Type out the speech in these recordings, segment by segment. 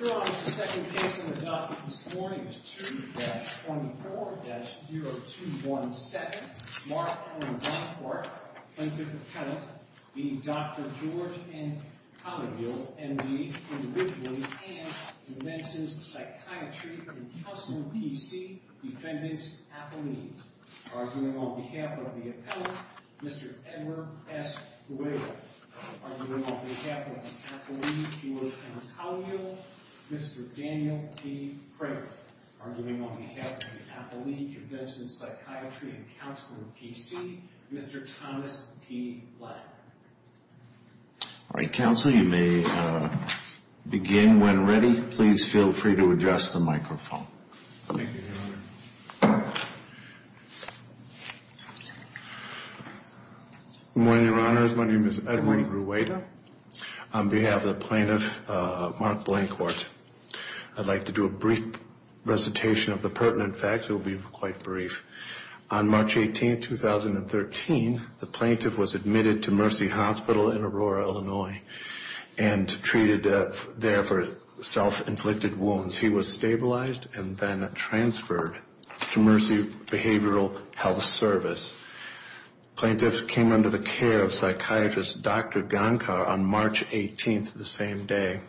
Your Honor, the second case on the docket this morning is 2-24-0217, Mark A. Blanquart, plaintiff's appellant, v. Dr. George N. Kalayil, M.D., individually, and who mentions Psychiatry and Counseling, P.C., Defendant's affiliates, arguing on behalf of the appellant, Mr. Edward S. Guero, arguing on behalf of the affiliate, George N. Kalayil, Mr. Daniel P. Craig, arguing on behalf of the appellee, Convention of Psychiatry and Counseling, P.C., Mr. Thomas P. Blanquart. All right, counsel, you may begin when ready. Please feel free to adjust the microphone. Thank you, Your Honor. Good morning, Your Honors. My name is Edward Guero. On behalf of the plaintiff, Mark Blanquart, I'd like to do a brief recitation of the pertinent facts. It will be quite brief. On March 18, 2013, the plaintiff was admitted to Mercy Hospital in Aurora, Illinois, and treated there for self-inflicted wounds. He was stabilized and then transferred to Mercy Behavioral Health Service. The plaintiff came under the care of psychiatrist Dr. Gonkar on March 18, the same day.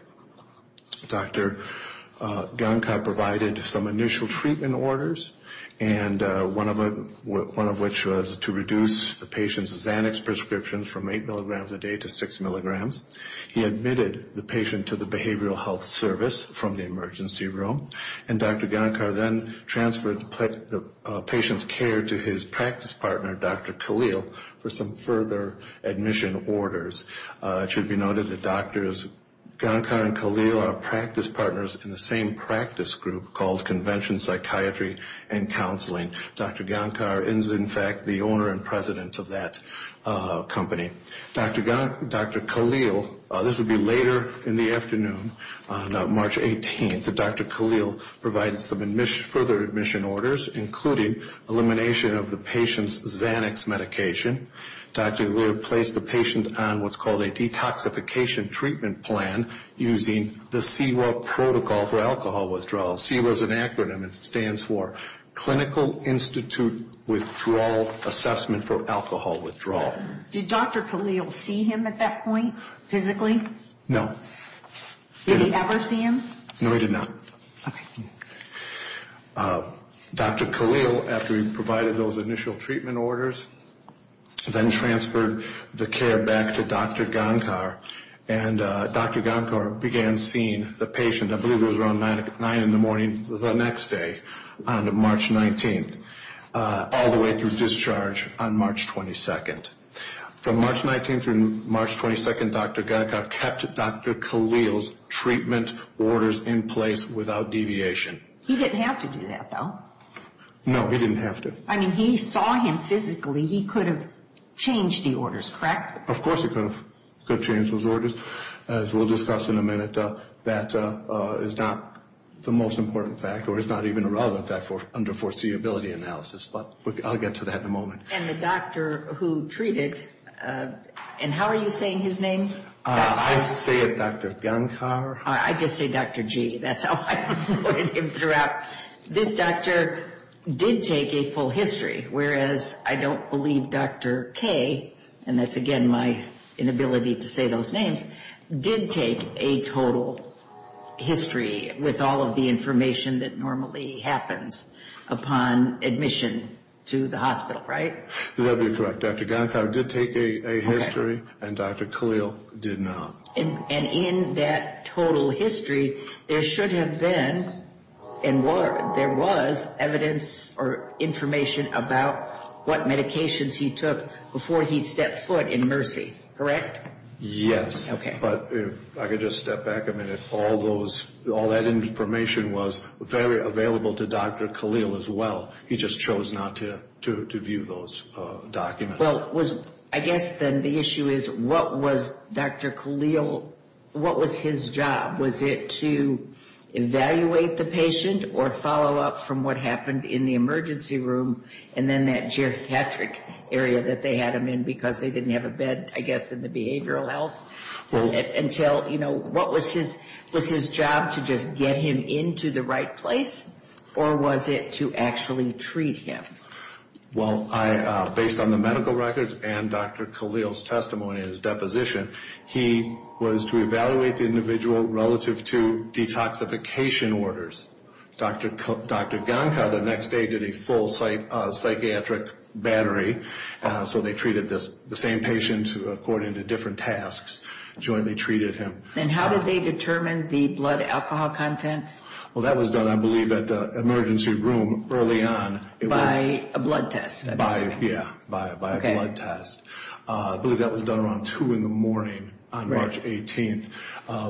Dr. Gankar provided some initial treatment orders, one of which was to reduce the patient's Xanax prescriptions from 8 mg a day to 6 mg. He admitted the patient to the Behavioral Health Service from the emergency room, and Dr. Gankar then transferred the patient's care to his practice partner, Dr. Khalil, for some further admission orders. It should be noted that Drs. Gankar and Khalil are practice partners in the same practice group called Convention of Psychiatry and Counseling. Dr. Gankar is, in fact, the owner and president of that company. Dr. Khalil, this would be later in the afternoon, on March 18, Dr. Khalil provided some further admission orders, including elimination of the patient's Xanax medication. Dr. Gankar placed the patient on what's called a detoxification treatment plan using the CEWA protocol for alcohol withdrawal. CEWA is an acronym, and it stands for Clinical Institute Withdrawal Assessment for Alcohol Withdrawal. Did Dr. Khalil see him at that point, physically? No. Did he ever see him? No, he did not. Okay. Dr. Khalil, after he provided those initial treatment orders, then transferred the care back to Dr. Gankar, and Dr. Gankar began seeing the patient, I believe it was around 9 in the morning the next day on March 19, all the way through discharge on March 22. From March 19 through March 22, Dr. Gankar kept Dr. Khalil's treatment orders in place without deviation. He didn't have to do that, though. No, he didn't have to. I mean, he saw him physically. He could have changed the orders, correct? Of course he could have changed those orders. As we'll discuss in a minute, that is not the most important fact, or it's not even a relevant fact under foreseeability analysis, but I'll get to that in a moment. And the doctor who treated, and how are you saying his name? I say it Dr. Gankar. I just say Dr. G, that's how I'm going to interrupt. This doctor did take a full history, whereas I don't believe Dr. K, and that's again my inability to say those names, did take a total history with all of the information that normally happens upon admission to the hospital, right? That would be correct. Dr. Gankar did take a history, and Dr. Khalil did not. And in that total history, there should have been, and there was, evidence or information about what medications he took before he stepped foot in Mercy, correct? Yes, but if I could just step back a minute. All that information was very available to Dr. Khalil as well. He just chose not to view those documents. Well, I guess then the issue is, what was Dr. Khalil, what was his job? Was it to evaluate the patient or follow up from what happened in the emergency room, and then that geriatric area that they had him in because they didn't have a bed, I guess, in the behavioral health, until, you know, what was his, was his job to just get him into the right place, or was it to actually treat him? Well, I, based on the medical records and Dr. Khalil's testimony and his deposition, he was to evaluate the individual relative to detoxification orders. Dr. Gankar the next day did a full psychiatric battery, so they treated the same patient according to different tasks, jointly treated him. And how did they determine the blood alcohol content? Well, that was done, I believe, at the emergency room early on. By a blood test? By, yeah, by a blood test. I believe that was done around 2 in the morning on March 18th.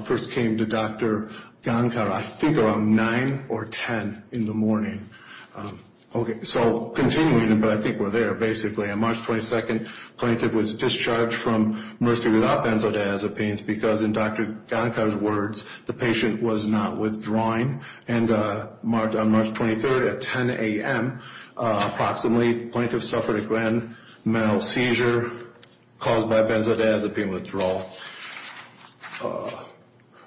First came to Dr. Gankar, I think around 9 or 10 in the morning. Okay, so continuing, but I think we're there, basically. On March 22nd, the plaintiff was discharged from Mercy without benzodiazepines because, in Dr. Gankar's words, the patient was not withdrawing. And on March 23rd at 10 a.m. approximately, the plaintiff suffered a grand mal seizure caused by a benzodiazepine withdrawal.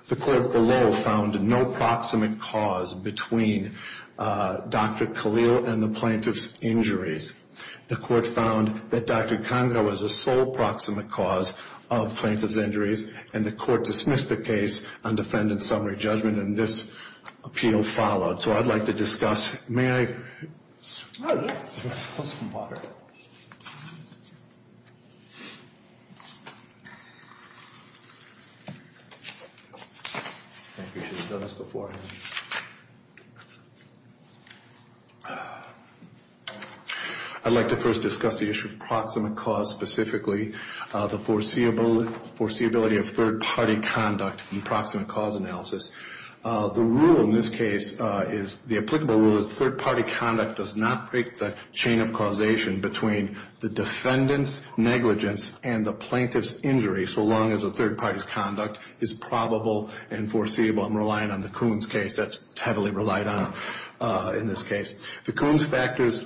The court below found no proximate cause between Dr. Khalil and the plaintiff's injuries. The court found that Dr. Gankar was the sole proximate cause of plaintiff's injuries, and the court dismissed the case on defendant's summary judgment, and this appeal followed. So I'd like to discuss, may I? I think we should have done this beforehand. I'd like to first discuss the issue of proximate cause specifically, the foreseeability of third party conduct in proximate cause analysis. The rule in this case is, the applicable rule is third party conduct does not break the chain of causation between the defendant's negligence and the plaintiff's injury, so long as the third party's conduct is probable and foreseeable. I'm relying on the Coons case, that's heavily relied on in this case. The Coons factors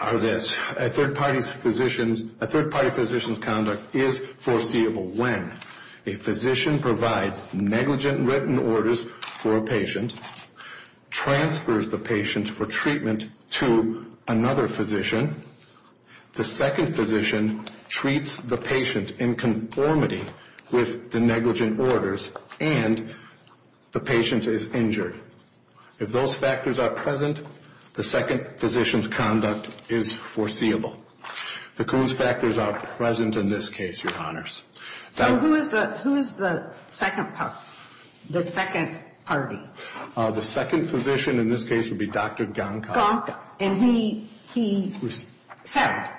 are this, a third party physician's conduct is foreseeable when a physician provides negligent written orders for a patient, transfers the patient for treatment to another physician, the second physician treats the patient in conformity with the negligent orders, and the patient is injured. If those factors are present, the second physician's conduct is foreseeable. The Coons factors are present in this case, Your Honors. So who is the second party? The second physician in this case would be Dr. Gonka. And he settled?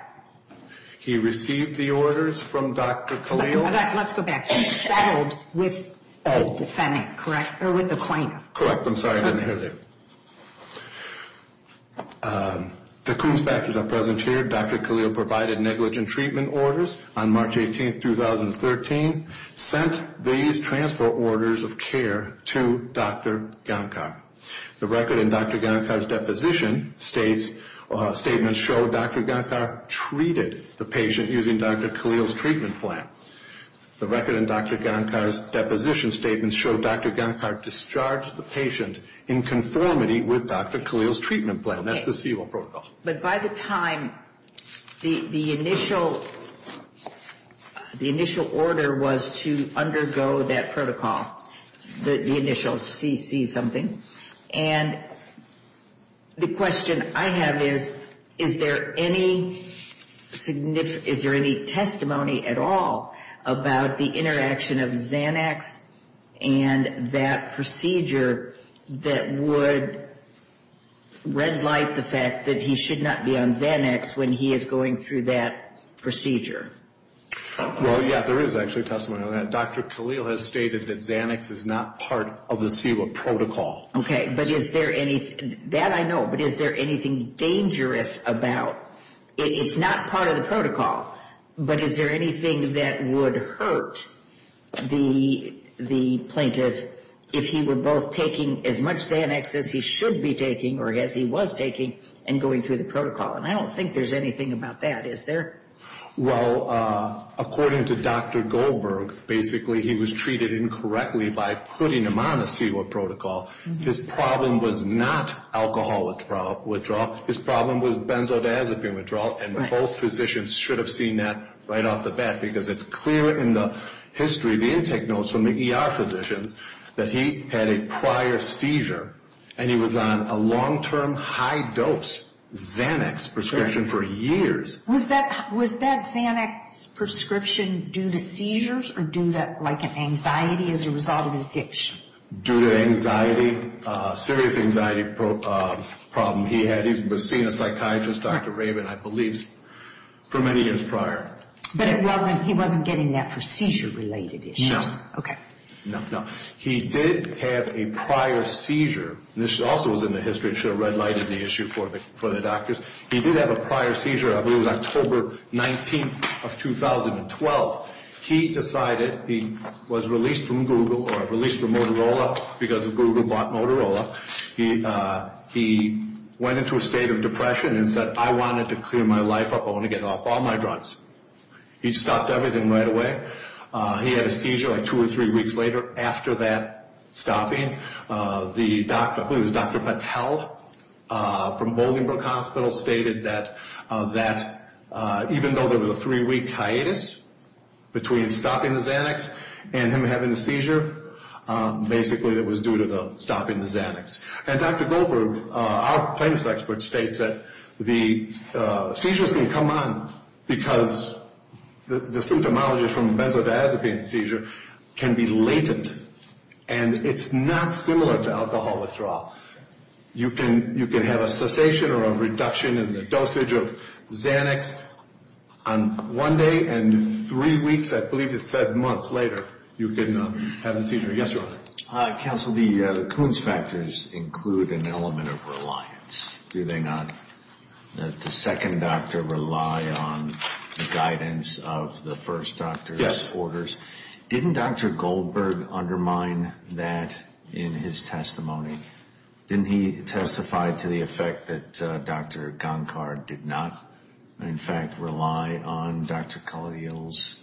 He received the orders from Dr. Khalil. Let's go back. He settled with the defendant, correct? Or with the plaintiff? Correct. I'm sorry, I didn't hear that. The Coons factors are present here. Dr. Khalil provided negligent treatment orders on March 18, 2013, sent these transfer orders of care to Dr. Gonka. The record in Dr. Gonka's deposition states, statements show Dr. Gonka treated the patient using Dr. Khalil's treatment plan. The record in Dr. Gonka's deposition statements show Dr. Gonka discharged the patient in conformity with Dr. Khalil's treatment plan. That's the CEVO protocol. But by the time the initial order was to undergo that protocol, the initial CC something, and the question I have is, is there any testimony at all about the interaction of Xanax and that procedure that would red light the fact that he should be discharged? He should not be on Xanax when he is going through that procedure. Well, yeah, there is actually testimony on that. Dr. Khalil has stated that Xanax is not part of the CEVO protocol. Okay, but is there anything, that I know, but is there anything dangerous about, it's not part of the protocol, but is there anything that would hurt the plaintiff if he were both taking as much Xanax as he should be taking, or as he was taking, and going through the protocol? And I don't think there's anything about that, is there? Well, according to Dr. Goldberg, basically he was treated incorrectly by putting him on the CEVO protocol. His problem was not alcohol withdrawal, his problem was benzodiazepine withdrawal, and both physicians should have seen that right off the bat, because it's clear in the history, the intake notes from the ER physicians, that he had a prior seizure, and he was on a long-term, high-dose Xanax prescription for years. Was that Xanax prescription due to seizures, or due to anxiety as a result of addiction? Due to anxiety, a serious anxiety problem he had. He was seeing a psychiatrist, Dr. Raven, I believe, for many years prior. But he wasn't getting that for seizure-related issues? Okay. No, no. He did have a prior seizure. This also was in the history, it should have red-lighted the issue for the doctors. He did have a prior seizure, I believe it was October 19th of 2012. He decided, he was released from Google, or released from Motorola, because Google bought Motorola. He went into a state of depression and said, I wanted to clear my life up, I want to get off all my drugs. He stopped everything right away. He had a seizure like two or three weeks later after that stopping. The doctor, I believe it was Dr. Patel, from Bolingbroke Hospital, stated that even though there was a three-week hiatus between stopping the Xanax and him having the seizure, basically it was due to stopping the Xanax. And Dr. Goldberg, our plaintiff's expert, states that the seizures can come on because the symptomology from benzodiazepine seizure can be latent, and it's not similar to alcohol withdrawal. You can have a cessation or a reduction in the dosage of Xanax on one day, and three weeks, I believe it said months later, you can have the seizure. Yes, Your Honor. Counsel, the Kuhn's factors include an element of reliance, do they not? That the second doctor rely on the guidance of the first doctor's orders. Didn't Dr. Goldberg undermine that in his testimony? Didn't he testify to the effect that Dr. Gunkard did not, in fact, rely on Dr. Khalil's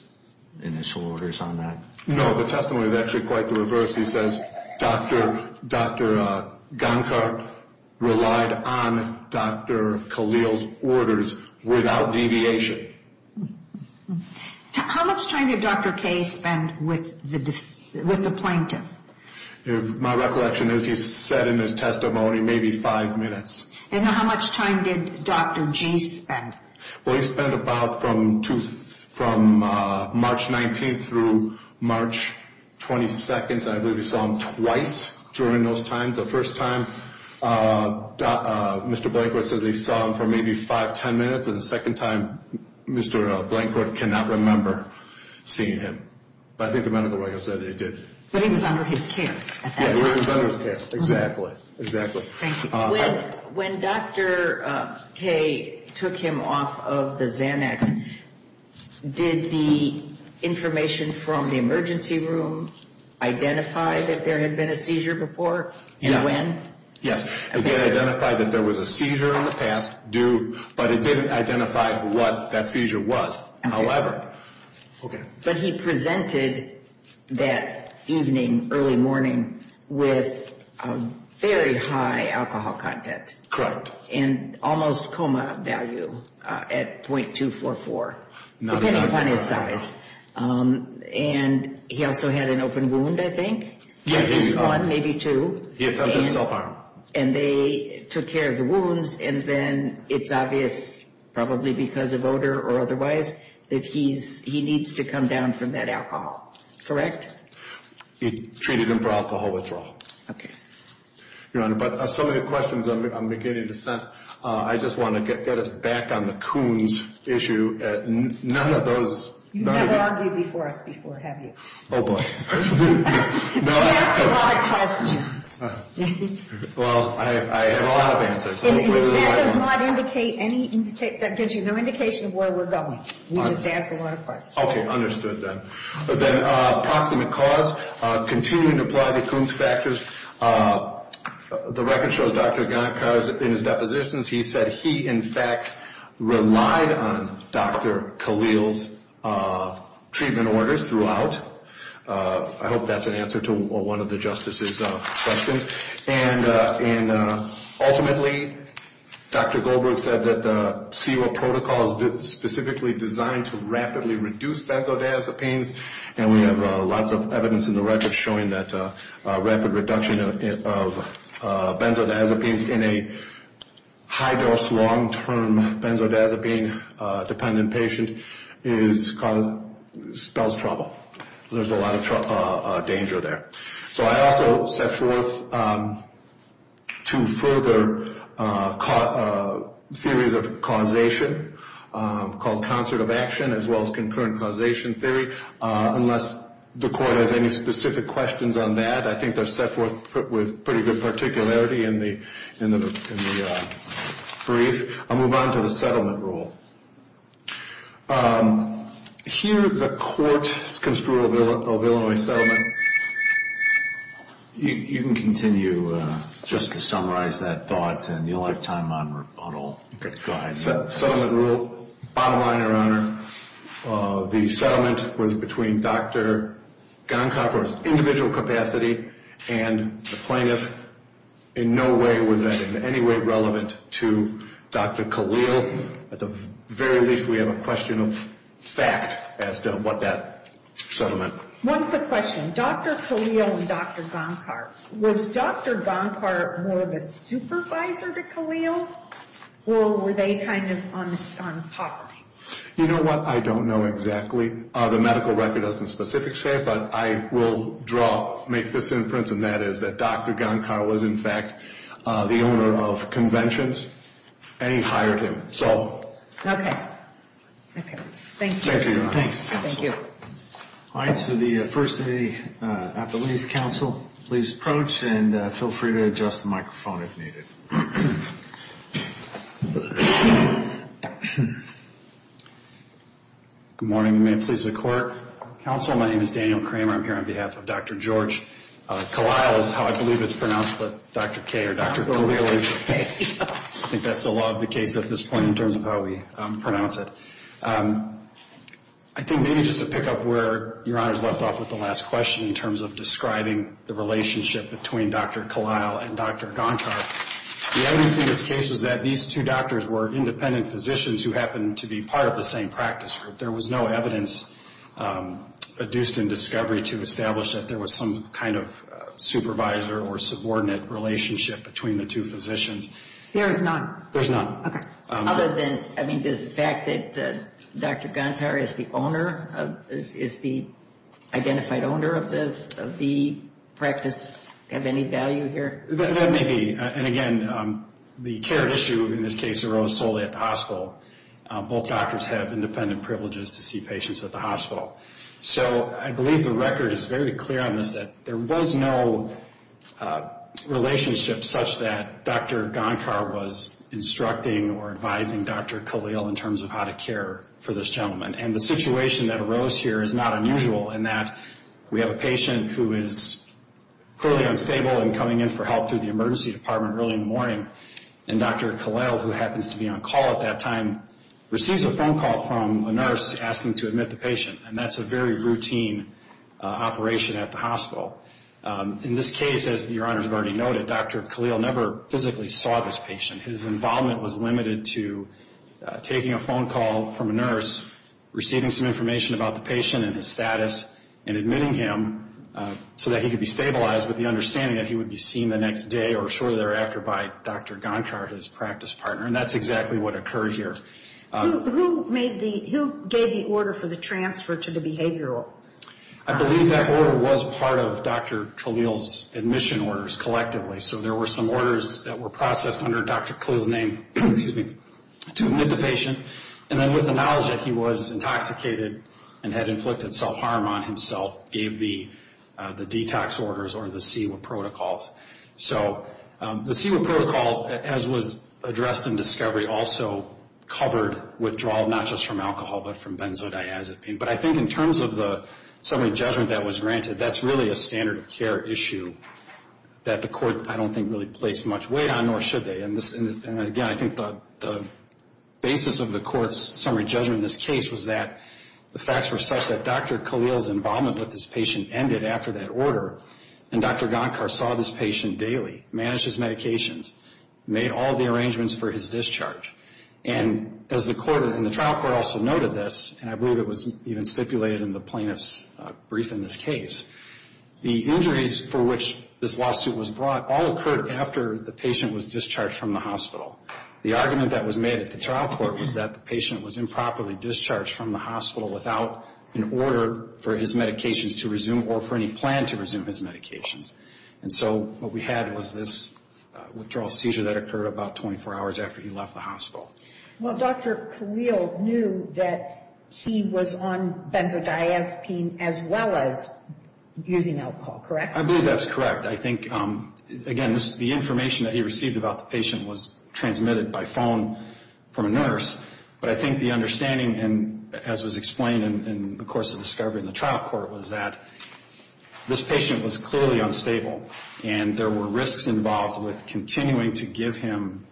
initial orders on that? No, the testimony is actually quite the reverse. He says Dr. Gunkard relied on Dr. Khalil's orders without deviation. How much time did Dr. K spend with the plaintiff? My recollection is he said in his testimony maybe five minutes. And how much time did Dr. G spend? Well, he spent about from March 19th through March 22nd, and I believe he saw him twice during those times. The first time, Mr. Blankworth says he saw him for maybe five, ten minutes, and the second time, Mr. Blankworth cannot remember seeing him. But I think the medical records said he did. But he was under his care at that time. Yeah, he was under his care, exactly, exactly. When Dr. K took him off of the Xanax, did the information from the emergency room identify that there had been a seizure before and when? Yes, it did identify that there was a seizure in the past, but it didn't identify what that seizure was, however. But he presented that evening, early morning, with a very high alcohol content. And almost coma value at .244, depending upon his size. And he also had an open wound, I think, at least one, maybe two. He attempted self-harm. And they took care of the wounds, and then it's obvious, probably because of odor or otherwise, that he needs to come down from that alcohol, correct? He treated him for alcohol withdrawal. Okay. Your Honor, but some of the questions I'm beginning to sense, I just want to get us back on the Coons issue. None of those... You've never argued before us before, have you? Oh, boy. You ask a lot of questions. Well, I have a lot of answers. That does not indicate any indication, that gives you no indication of where we're going. You just ask a lot of questions. Okay, understood then. But then, proximate cause, continuing to apply the Coons factors. The record shows Dr. Ganekow in his depositions, he said he, in fact, relied on Dr. Khalil's treatment orders throughout. I hope that's an answer to one of the Justice's questions. And ultimately, Dr. Goldberg said that the CERO protocol is specifically designed to rapidly reduce benzodiazepines. And we have lots of evidence in the record showing that rapid reduction of benzodiazepines in a high-dose, long-term benzodiazepine-dependent patient spells trouble. There's a lot of danger there. So I also set forth two further theories of causation called concert of action as well as concurrent causation theory. Unless the Court has any specific questions on that, I think they're set forth with pretty good particularity in the brief. I'll move on to the settlement rule. Here the Court's construal of Illinois settlement. You can continue just to summarize that thought, and you'll have time on rebuttal. Okay, go ahead. Settlement rule. Bottom line, Your Honor, the settlement was between Dr. Ganekow for his individual capacity and the plaintiff. In no way was that in any way relevant to Dr. Khalil. At the very least, we have a question of fact as to what that settlement was. One quick question. Dr. Khalil and Dr. Gonkar, was Dr. Gankar more of a supervisor to Khalil, or were they kind of on par? You know what? I don't know exactly. The medical record doesn't specifically say it, but I will draw, make this inference, and that is that Dr. Gankar was, in fact, the owner of conventions, and he hired him. Okay. Thank you. Thank you, Your Honor. Thank you. All right. So the first day at the Lease Council, please approach and feel free to adjust the microphone if needed. Good morning. May it please the Court. Counsel, my name is Daniel Kramer. I'm here on behalf of Dr. George. Khalil is how I believe it's pronounced, but Dr. K or Dr. Khalil is. I think that's the law of the case at this point in terms of how we pronounce it. I think maybe just to pick up where Your Honor's left off with the last question in terms of describing the relationship between Dr. Khalil and Dr. Gankar. The evidence in this case was that these two doctors were independent physicians who happened to be part of the same practice group. There was no evidence adduced in discovery to establish that there was some kind of supervisor or subordinate relationship between the two physicians. There is none. There's none. Okay. Other than, I mean, does the fact that Dr. Gankar is the owner, is the identified owner of the practice have any value here? That may be. And again, the care issue in this case arose solely at the hospital. Both doctors have independent privileges to see patients at the hospital. So I believe the record is very clear on this, that there was no relationship such that Dr. Gankar was instructing or advising Dr. Khalil in terms of how to care for this gentleman. And the situation that arose here is not unusual in that we have a patient who is clearly unstable and coming in for help through the emergency department early in the morning. And Dr. Khalil, who happens to be on call at that time, receives a phone call from a nurse asking to admit the patient. And that's a very routine operation at the hospital. In this case, as Your Honors have already noted, Dr. Khalil never physically saw this patient. His involvement was limited to taking a phone call from a nurse, receiving some information about the patient and his status, and admitting him so that he could be stabilized with the understanding that he would be seen the next day or shortly thereafter by Dr. Gankar, his practice partner. And that's exactly what occurred here. Who gave the order for the transfer to the behavioral? I believe that order was part of Dr. Khalil's admission orders collectively. So there were some orders that were processed under Dr. Khalil's name to admit the patient. And then with the knowledge that he was intoxicated and had inflicted self-harm on himself, gave the detox orders or the CEWA protocols. So the CEWA protocol, as was addressed in discovery, also covered withdrawal not just from alcohol but from benzodiazepine. But I think in terms of the summary judgment that was granted, that's really a standard of care issue that the court, I don't think, really placed much weight on, nor should they. And again, I think the basis of the court's summary judgment in this case was that the facts were such that Dr. Khalil's involvement with this patient ended after that order, and Dr. Gankar saw this patient daily, managed his medications, made all the arrangements for his discharge. And as the trial court also noted this, and I believe it was even stipulated in the plaintiff's brief in this case, the injuries for which this lawsuit was brought all occurred after the patient was discharged from the hospital. The argument that was made at the trial court was that the patient was improperly discharged from the hospital without an order for his medications to resume or for any plan to resume his medications. And so what we had was this withdrawal seizure that occurred about 24 hours after he left the hospital. Well, Dr. Khalil knew that he was on benzodiazepine as well as using alcohol, correct? I believe that's correct. I think, again, the information that he received about the patient was transmitted by phone from a nurse. But I think the understanding, as was explained in the course of discovery in the trial court, was that this patient was clearly unstable, and there were risks involved with continuing to give him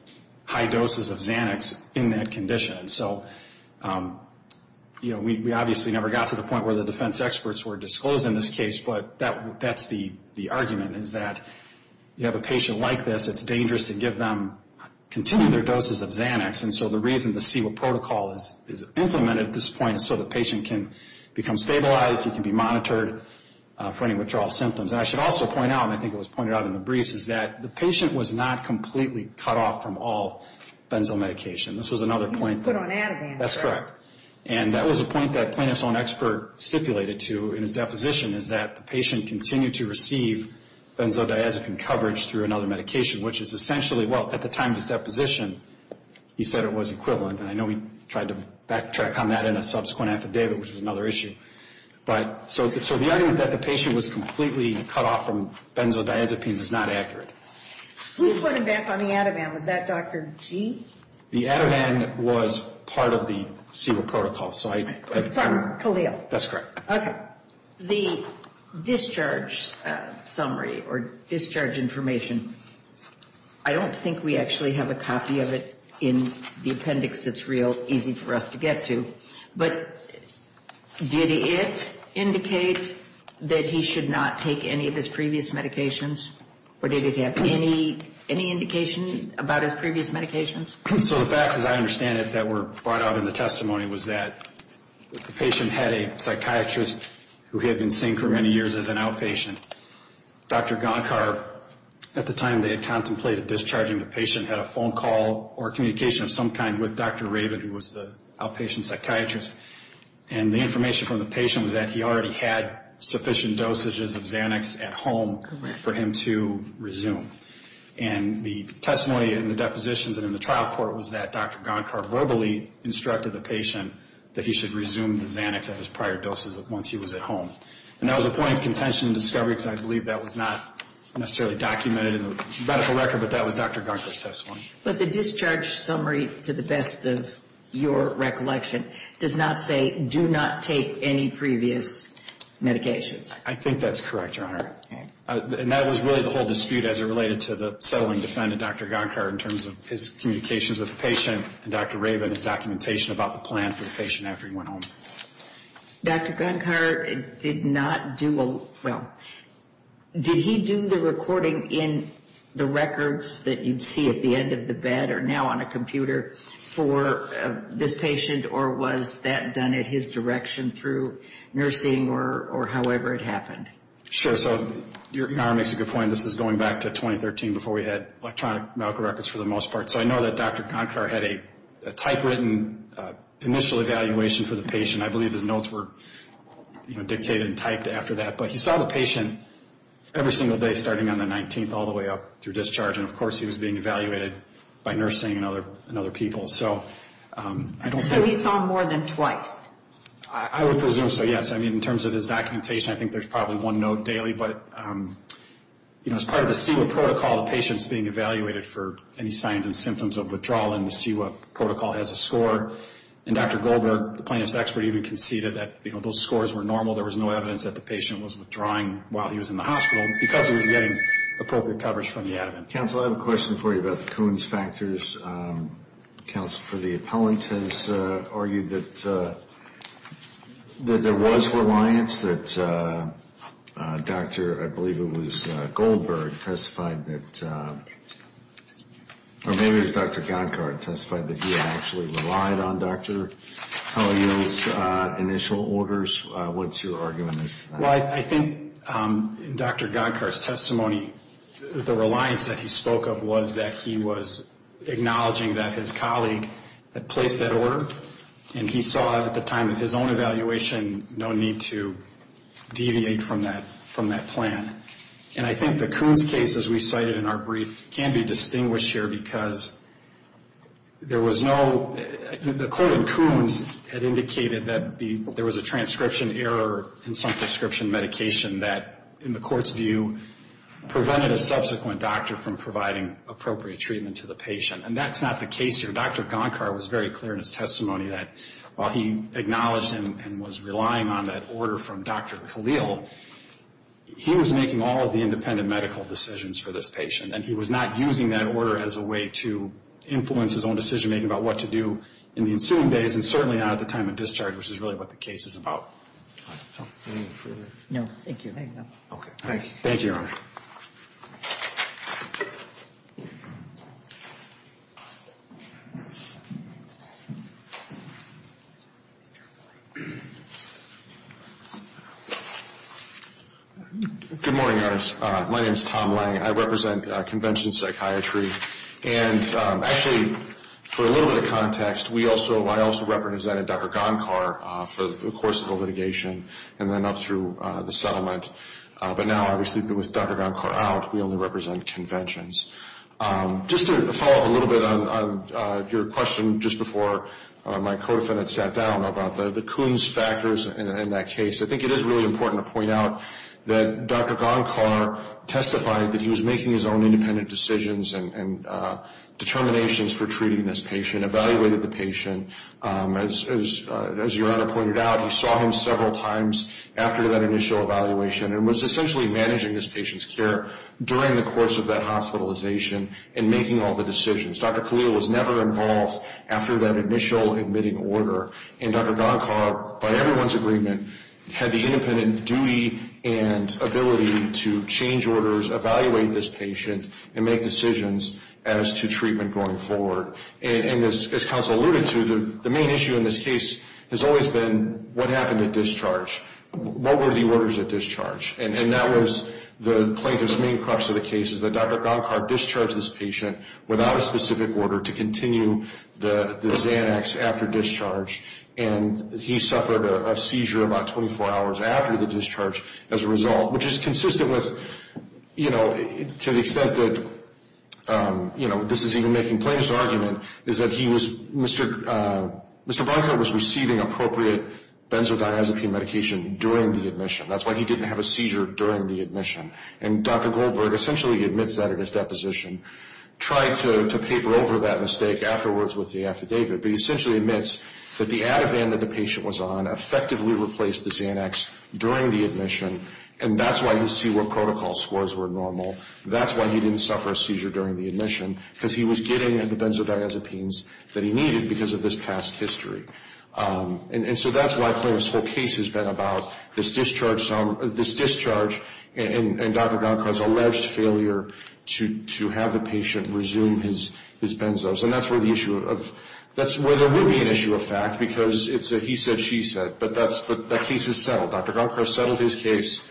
high doses of Xanax in that condition. And so, you know, we obviously never got to the point where the defense experts were disclosed in this case, but that's the argument, is that you have a patient like this, it's dangerous to give them continuing their doses of Xanax. And so the reason the CEWA protocol is implemented at this point is so the patient can become stabilized, he can be monitored for any withdrawal symptoms. And I should also point out, and I think it was pointed out in the briefs, is that the patient was not completely cut off from all benzomedication. This was another point. He was put on Ativan, correct? That's correct. And that was a point that plaintiff's own expert stipulated to in his deposition, is that the patient continued to receive benzodiazepine coverage through another medication, which is essentially, well, at the time of his deposition, he said it was equivalent. And I know he tried to backtrack on that in a subsequent affidavit, which was another issue. So the argument that the patient was completely cut off from benzodiazepine is not accurate. Who put him back on the Ativan? Was that Dr. G? The Ativan was part of the CEWA protocol. From Khalil. That's correct. Okay. The discharge summary or discharge information, I don't think we actually have a copy of it in the appendix that's real easy for us to get to, but did it indicate that he should not take any of his previous medications? Or did it have any indication about his previous medications? So the facts, as I understand it, that were brought out in the testimony was that the patient had a psychiatrist who he had been seeing for many years as an outpatient. Dr. Gonkar, at the time they had contemplated discharging the patient, had a phone call or communication of some kind with Dr. Rabin, who was the outpatient psychiatrist. And the information from the patient was that he already had sufficient dosages of Xanax at home for him to resume. And the testimony in the depositions and in the trial court was that Dr. Gonkar verbally instructed the patient that he should resume the Xanax of his prior doses once he was at home. And that was a point of contention and discovery, because I believe that was not necessarily documented in the medical record, but that was Dr. Gonkar's testimony. But the discharge summary, to the best of your recollection, does not say do not take any previous medications? I think that's correct, Your Honor. And that was really the whole dispute as it related to the settling defendant, Dr. Gonkar, in terms of his communications with the patient and Dr. Rabin's documentation about the plan for the patient after he went home. Dr. Gonkar did not do a, well, did he do the recording in the records that you'd see at the end of the bed or now on a computer for this patient, or was that done at his direction through nursing or however it happened? Sure. So Your Honor makes a good point. This is going back to 2013 before we had electronic medical records for the most part. So I know that Dr. Gonkar had a typewritten initial evaluation for the patient. I believe his notes were dictated and typed after that. But he saw the patient every single day starting on the 19th all the way up through discharge. And, of course, he was being evaluated by nursing and other people. So he saw more than twice? I would presume so, yes. I mean, in terms of his documentation, I think there's probably one note daily. But, you know, as part of the CEWA protocol, the patient's being evaluated for any signs and symptoms of withdrawal, and the CEWA protocol has a score. And Dr. Goldberg, the plaintiff's expert, even conceded that, you know, those scores were normal. There was no evidence that the patient was withdrawing while he was in the hospital because he was getting appropriate coverage from the admin. Counsel, I have a question for you about the Coons factors. Counsel, the appellant has argued that there was reliance, that Dr. I believe it was Goldberg testified that, or maybe it was Dr. Gonkar testified that he had actually relied on Dr. Collier's initial orders. What's your argument as to that? Well, I think Dr. Gonkar's testimony, the reliance that he spoke of, was that he was acknowledging that his colleague had placed that order, and he saw at the time of his own evaluation no need to deviate from that plan. And I think the Coons cases we cited in our brief can be distinguished here because there was no, the court in Coons had indicated that there was a transcription error in some prescription medication that in the court's view prevented a subsequent doctor from providing appropriate treatment to the patient. And that's not the case here. Dr. Gonkar was very clear in his testimony that while he acknowledged and was relying on that order from Dr. Collier, he was making all of the independent medical decisions for this patient, and he was not using that order as a way to influence his own decision-making about what to do in the ensuing days, and certainly not at the time of discharge, which is really what the case is about. Any further? No, thank you. Thank you, Your Honor. Good morning, Your Honors. My name is Tom Lang. I represent Convention Psychiatry, and actually for a little bit of context, I also represented Dr. Gonkar for the course of the litigation and then up through the settlement. But now, obviously, with Dr. Gonkar out, we only represent conventions. Just to follow up a little bit on your question just before my co-defendant sat down about the Coons factors in that case, I think it is really important to point out that Dr. Gonkar testified that he was making his own independent decisions and determinations for treating this patient, evaluated the patient. As Your Honor pointed out, he saw him several times after that initial evaluation and was essentially managing this patient's care during the course of that hospitalization and making all the decisions. Dr. Collier was never involved after that initial admitting order, and Dr. Gonkar, by everyone's agreement, had the independent duty and ability to change orders, evaluate this patient, and make decisions as to treatment going forward. And as counsel alluded to, the main issue in this case has always been what happened at discharge. What were the orders at discharge? And that was the plaintiff's main crux of the case, is that Dr. Gonkar discharged this patient without a specific order to continue the Xanax after discharge, and he suffered a seizure about 24 hours after the discharge as a result, which is consistent with, to the extent that this is even making plaintiff's argument, is that Mr. Gonkar was receiving appropriate benzodiazepine medication during the admission. That's why he didn't have a seizure during the admission. And Dr. Goldberg essentially admits that in his deposition, tried to paper over that mistake afterwards with the affidavit, but he essentially admits that the Ativan that the patient was on effectively replaced the Xanax during the admission, and that's why you see where protocol scores were normal. That's why he didn't suffer a seizure during the admission, because he was getting the benzodiazepines that he needed because of this past history. And so that's why plaintiff's whole case has been about this discharge and Dr. Gonkar's alleged failure to have the patient resume his benzos. And that's where there would be an issue of fact, because it's a he said, she said. But that case is settled. Dr. Gonkar settled his case.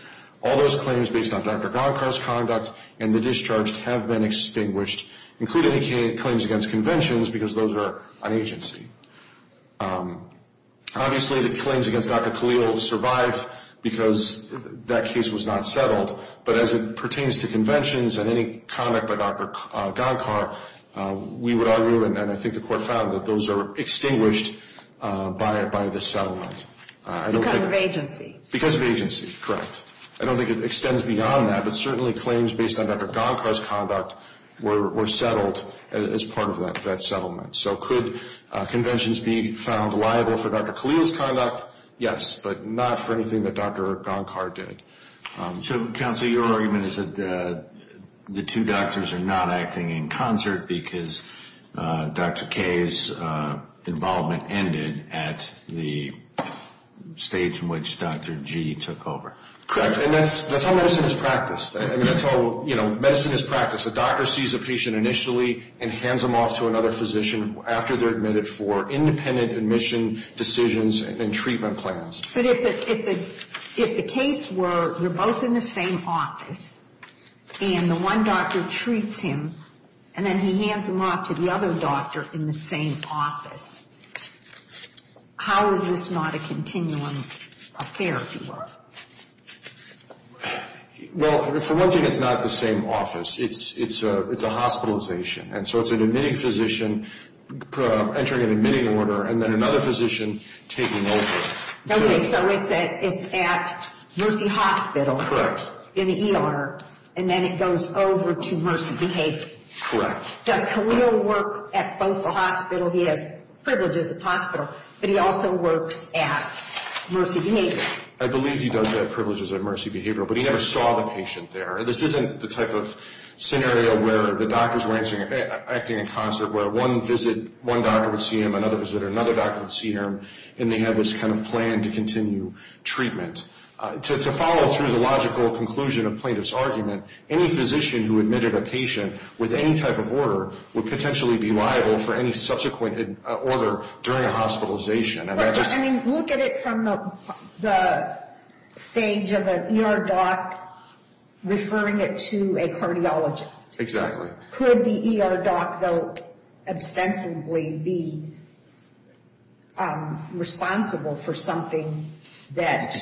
All those claims based on Dr. Gonkar's conduct and the discharge have been extinguished, including claims against conventions, because those are on agency. Obviously, the claims against Dr. Khalil survive because that case was not settled. But as it pertains to conventions and any conduct by Dr. Gonkar, we would argue, and I think the court found that those are extinguished by the settlement. Because of agency. Because of agency, correct. I don't think it extends beyond that, but certainly claims based on Dr. Gonkar's conduct were settled as part of that settlement. So could conventions be found liable for Dr. Khalil's conduct? Yes, but not for anything that Dr. Gonkar did. So, counsel, your argument is that the two doctors are not acting in concert because Dr. K's involvement ended at the stage in which Dr. G took over. Correct. And that's how medicine is practiced. I mean, that's how, you know, medicine is practiced. A doctor sees a patient initially and hands them off to another physician after they're admitted for independent admission decisions and treatment plans. But if the case were you're both in the same office, and the one doctor treats him, and then he hands him off to the other doctor in the same office, how is this not a continuum affair, if you will? Well, for one thing, it's not the same office. It's a hospitalization. And so it's an admitting physician entering an admitting order and then another physician taking over. Okay, so it's at Mercy Hospital. Correct. And then he works in the ER, and then it goes over to Mercy Behavior. Correct. Does Khalil work at both the hospital? He has privileges at the hospital, but he also works at Mercy Behavior. I believe he does have privileges at Mercy Behavior, but he never saw the patient there. This isn't the type of scenario where the doctors were acting in concert, where one doctor would see him, another doctor would see him, and they had this kind of plan to continue treatment. To follow through the logical conclusion of plaintiff's argument, any physician who admitted a patient with any type of order would potentially be liable for any subsequent order during a hospitalization. I mean, look at it from the stage of an ER doc referring it to a cardiologist. Exactly. Could the ER doc, though, ostensibly be responsible for something that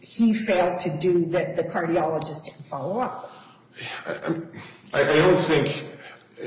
he failed to do that the cardiologist didn't follow up with? I don't think.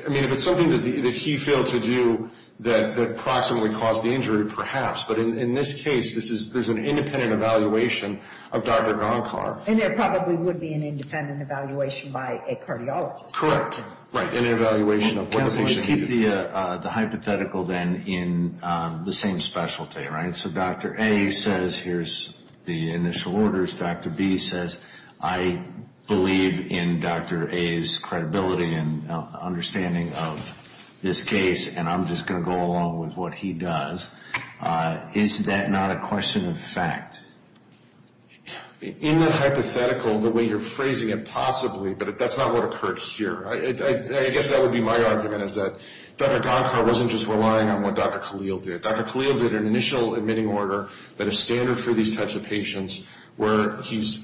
I mean, if it's something that he failed to do that approximately caused the injury, perhaps. But in this case, there's an independent evaluation of Dr. Gonkar. And there probably would be an independent evaluation by a cardiologist. Correct. And an evaluation of what it was that he did. Let's keep the hypothetical, then, in the same specialty, right? So Dr. A says, here's the initial orders. Dr. B says, I believe in Dr. A's credibility and understanding of this case, and I'm just going to go along with what he does. Is that not a question of fact? In the hypothetical, the way you're phrasing it, possibly, but that's not what occurred here. I guess that would be my argument, is that Dr. Gonkar wasn't just relying on what Dr. Khalil did. Dr. Khalil did an initial admitting order that is standard for these types of patients where he's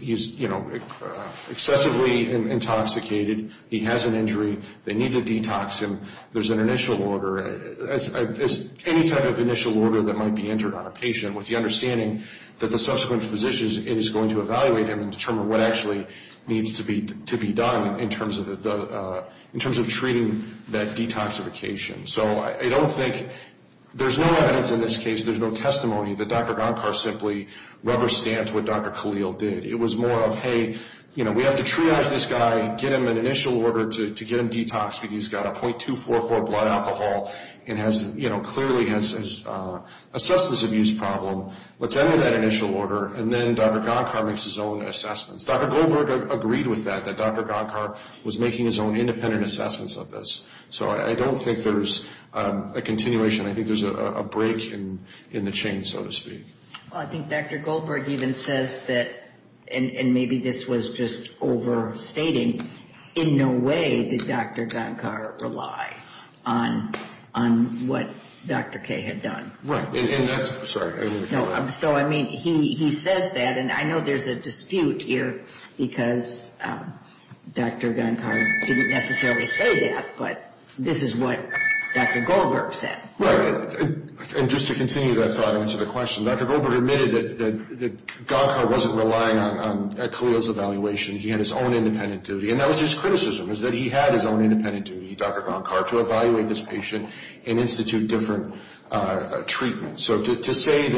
excessively intoxicated, he has an injury, they need to detox him. There's an initial order. Any type of initial order that might be entered on a patient with the understanding that the subsequent physician is going to evaluate him and what actually needs to be done in terms of treating that detoxification. So I don't think there's no evidence in this case, there's no testimony, that Dr. Gonkar simply rubber-stamped what Dr. Khalil did. It was more of, hey, we have to triage this guy, get him an initial order to get him detoxed because he's got a .244 blood alcohol and clearly has a substance abuse problem. Let's enter that initial order, and then Dr. Gonkar makes his own assessments. Dr. Goldberg agreed with that, that Dr. Gonkar was making his own independent assessments of this. So I don't think there's a continuation. I think there's a break in the chain, so to speak. Well, I think Dr. Goldberg even says that, and maybe this was just overstating, in no way did Dr. Gonkar rely on what Dr. K had done. Right. And that's, sorry. So, I mean, he says that, and I know there's a dispute here because Dr. Gonkar didn't necessarily say that, but this is what Dr. Goldberg said. Right. And just to continue that thought and answer the question, Dr. Goldberg admitted that Gonkar wasn't relying on Khalil's evaluation. He had his own independent duty, and that was his criticism, is that he had his own independent duty, Dr. Gonkar, to evaluate this patient and institute different treatments. So to say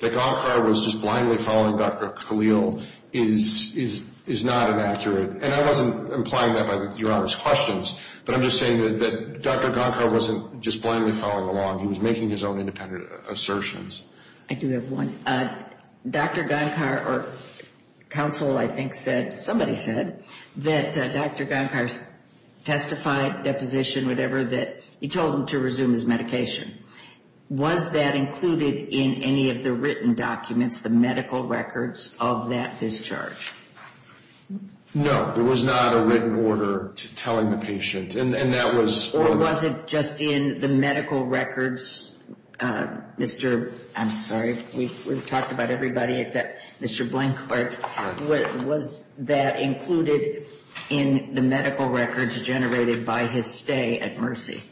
that Gonkar was just blindly following Dr. Khalil is not inaccurate, and I wasn't implying that by Your Honor's questions, but I'm just saying that Dr. Gonkar wasn't just blindly following along. He was making his own independent assertions. I do have one. Dr. Gonkar, or counsel, I think, said, somebody said, that Dr. Gonkar testified, deposition, whatever, that he told him to resume his medication. Was that included in any of the written documents, the medical records of that discharge? No. There was not a written order telling the patient, and that was... Or was it just in the medical records, Mr.... I'm sorry, we've talked about everybody except Mr. Blanquart. Right. Was that included in the medical records generated by his stay at Mercy?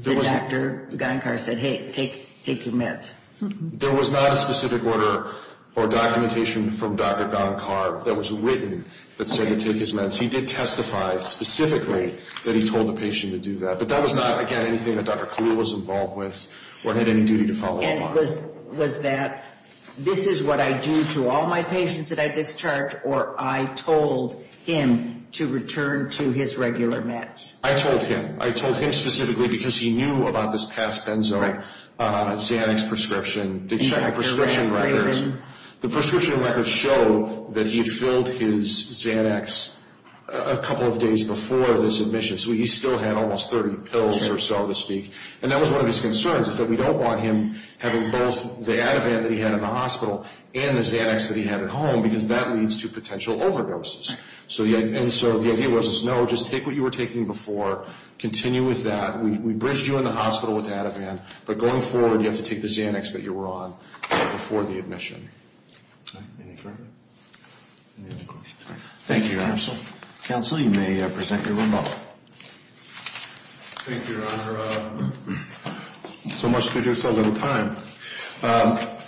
Dr. Gonkar said, hey, take your meds. There was not a specific order or documentation from Dr. Gonkar that was written that said to take his meds. He did testify specifically that he told the patient to do that, but that was not, again, anything that Dr. Khalil was involved with or had any duty to follow along. And was that, this is what I do to all my patients that I discharge, or I told him to return to his regular meds? I told him. I told him specifically because he knew about this past benzoin Xanax prescription. The prescription records show that he had filled his Xanax a couple of days before this admission, so he still had almost 30 pills or so to speak. And that was one of his concerns, is that we don't want him having both the Ativan that he had in the hospital and the Xanax that he had at home because that leads to potential overdoses. And so the idea was, no, just take what you were taking before, continue with that. We bridged you in the hospital with Ativan, but going forward you have to take the Xanax that you were on before the admission. Any further questions? Thank you, Your Honor. Counsel, you may present your remote. Thank you, Your Honor. So much to do, so little time.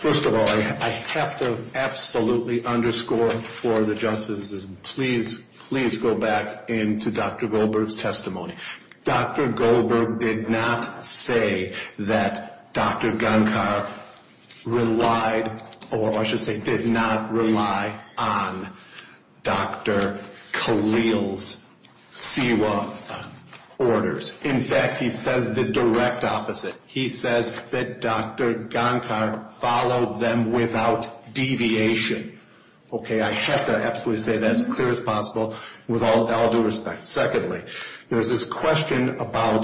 First of all, I have to absolutely underscore for the justices, please, please go back into Dr. Goldberg's testimony. Dr. Goldberg did not say that Dr. Gunkar relied, or I should say did not rely on Dr. Khalil's SIWA orders. In fact, he says the direct opposite. He says that Dr. Gunkar followed them without deviation. Okay, I have to absolutely say that as clear as possible with all due respect. Secondly, there was this question about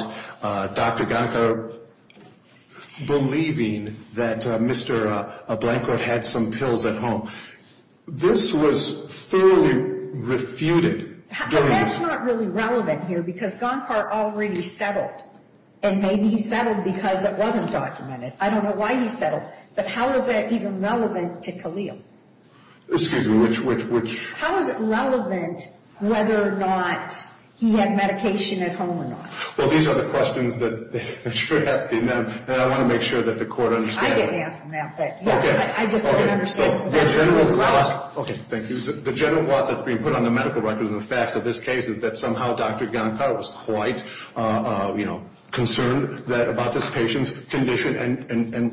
Dr. Gunkar believing that Mr. Blanco had some pills at home. This was thoroughly refuted. That's not really relevant here because Gunkar already settled, and maybe he settled because it wasn't documented. I don't know why he settled, but how is that even relevant to Khalil? Excuse me, which? How is it relevant whether or not he had medication at home or not? Well, these are the questions that you're asking, and I want to make sure that the Court understands that. I didn't ask him that, but I just don't understand. Okay, thank you. The general gloss that's being put on the medical records and the facts of this case is that somehow Dr. Gunkar was quite concerned about this patient's condition and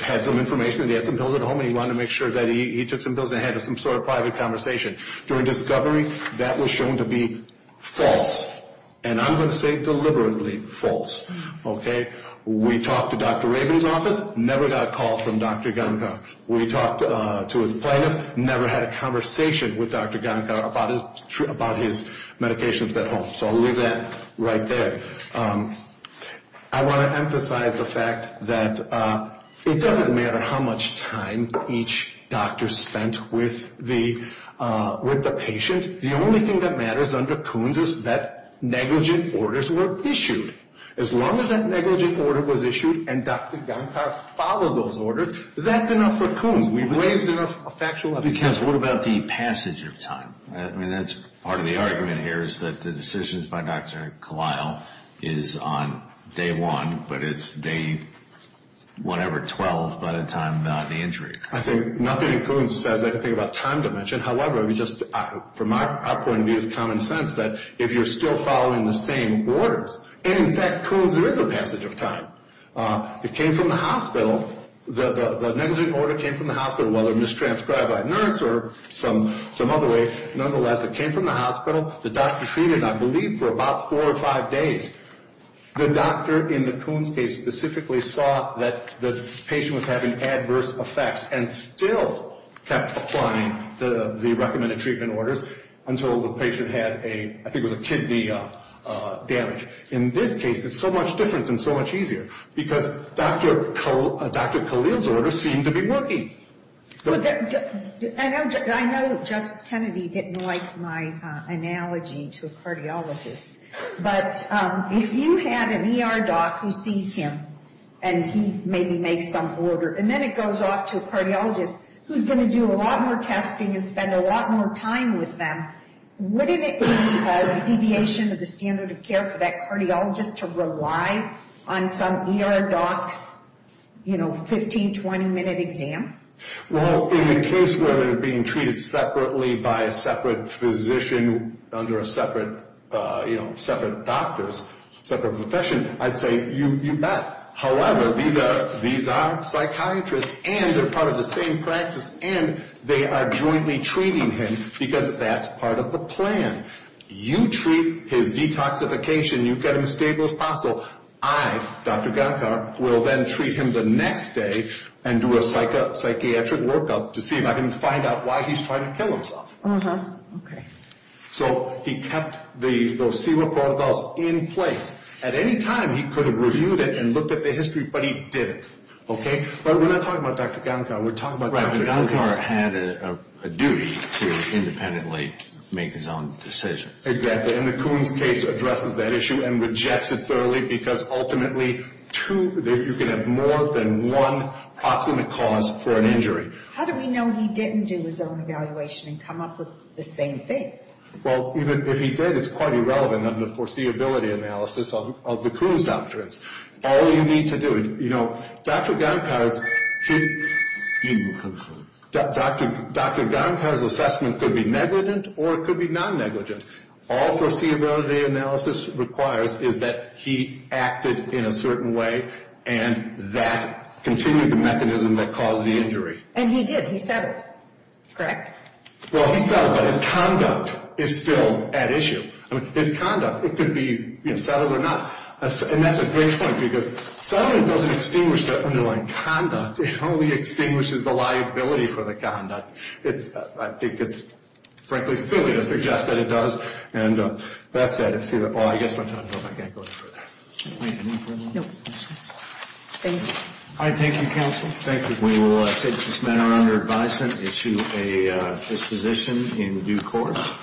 had some information that he had some pills at home, and he wanted to make sure that he took some pills and had some sort of private conversation. During discovery, that was shown to be false, and I'm going to say deliberately false. We talked to Dr. Rabin's office, never got a call from Dr. Gunkar. We talked to his plaintiff, never had a conversation with Dr. Gunkar about his medications at home. So I'll leave that right there. I want to emphasize the fact that it doesn't matter how much time each doctor spent with the patient. The only thing that matters under Kuhn's is that negligent orders were issued. As long as that negligent order was issued and Dr. Gunkar followed those orders, that's enough for Kuhn's. We've raised enough factual evidence. Because what about the passage of time? I mean, that's part of the argument here is that the decisions by Dr. Kalil is on day one, but it's day whatever, 12, by the time the injury occurs. I think nothing in Kuhn's says anything about time dimension. However, from our point of view, it's common sense that if you're still following the same orders, and in fact, Kuhn's, there is a passage of time. It came from the hospital. The negligent order came from the hospital, whether mistranscribed by a nurse or some other way. Nonetheless, it came from the hospital. The doctor treated, I believe, for about four or five days. The doctor in the Kuhn's case specifically saw that the patient was having adverse effects and still kept applying the recommended treatment orders until the patient had a, I think it was a kidney damage. In this case, it's so much different and so much easier because Dr. Kalil's orders seem to be working. I know Justice Kennedy didn't like my analogy to a cardiologist, but if you had an ER doc who sees him and he maybe makes some order, and then it goes off to a cardiologist who's going to do a lot more testing and spend a lot more time with them, wouldn't it be a deviation of the standard of care for that cardiologist to rely on some ER doc's, you know, 15, 20-minute exam? Well, in the case where they're being treated separately by a separate physician under a separate, you know, separate doctor's separate profession, I'd say you bet. However, these are psychiatrists, and they're part of the same practice, and they are jointly treating him because that's part of the plan. You treat his detoxification. You get him stable as possible. I, Dr. Gankar, will then treat him the next day and do a psychiatric workup to see if I can find out why he's trying to kill himself. Uh-huh. Okay. So he kept those CEWA protocols in place. At any time, he could have reviewed it and looked at the history, but he didn't. Okay? But we're not talking about Dr. Gankar. We're talking about Dr. Kuhn. Right, but Gankar had a duty to independently make his own decisions. Exactly, and the Kuhn's case addresses that issue and rejects it thoroughly because ultimately, two, you can have more than one proximate cause for an injury. How do we know he didn't do his own evaluation and come up with the same thing? Well, even if he did, it's quite irrelevant under foreseeability analysis of the Kuhn's doctrines. All you need to do, you know, Dr. Gankar's assessment could be negligent or it could be non-negligent. All foreseeability analysis requires is that he acted in a certain way and that continued the mechanism that caused the injury. And he did. He said it. Correct. Well, he said it, but his conduct is still at issue. I mean, his conduct, it could be, you know, settled or not. And that's a great point because settling doesn't extinguish the underlying conduct. It only extinguishes the liability for the conduct. I think it's, frankly, silly to suggest that it does. And with that said, I guess my time's up. I can't go any further. Thank you. All right, thank you, counsel. Thank you. We will take this matter under advisement, issue a disposition in due course.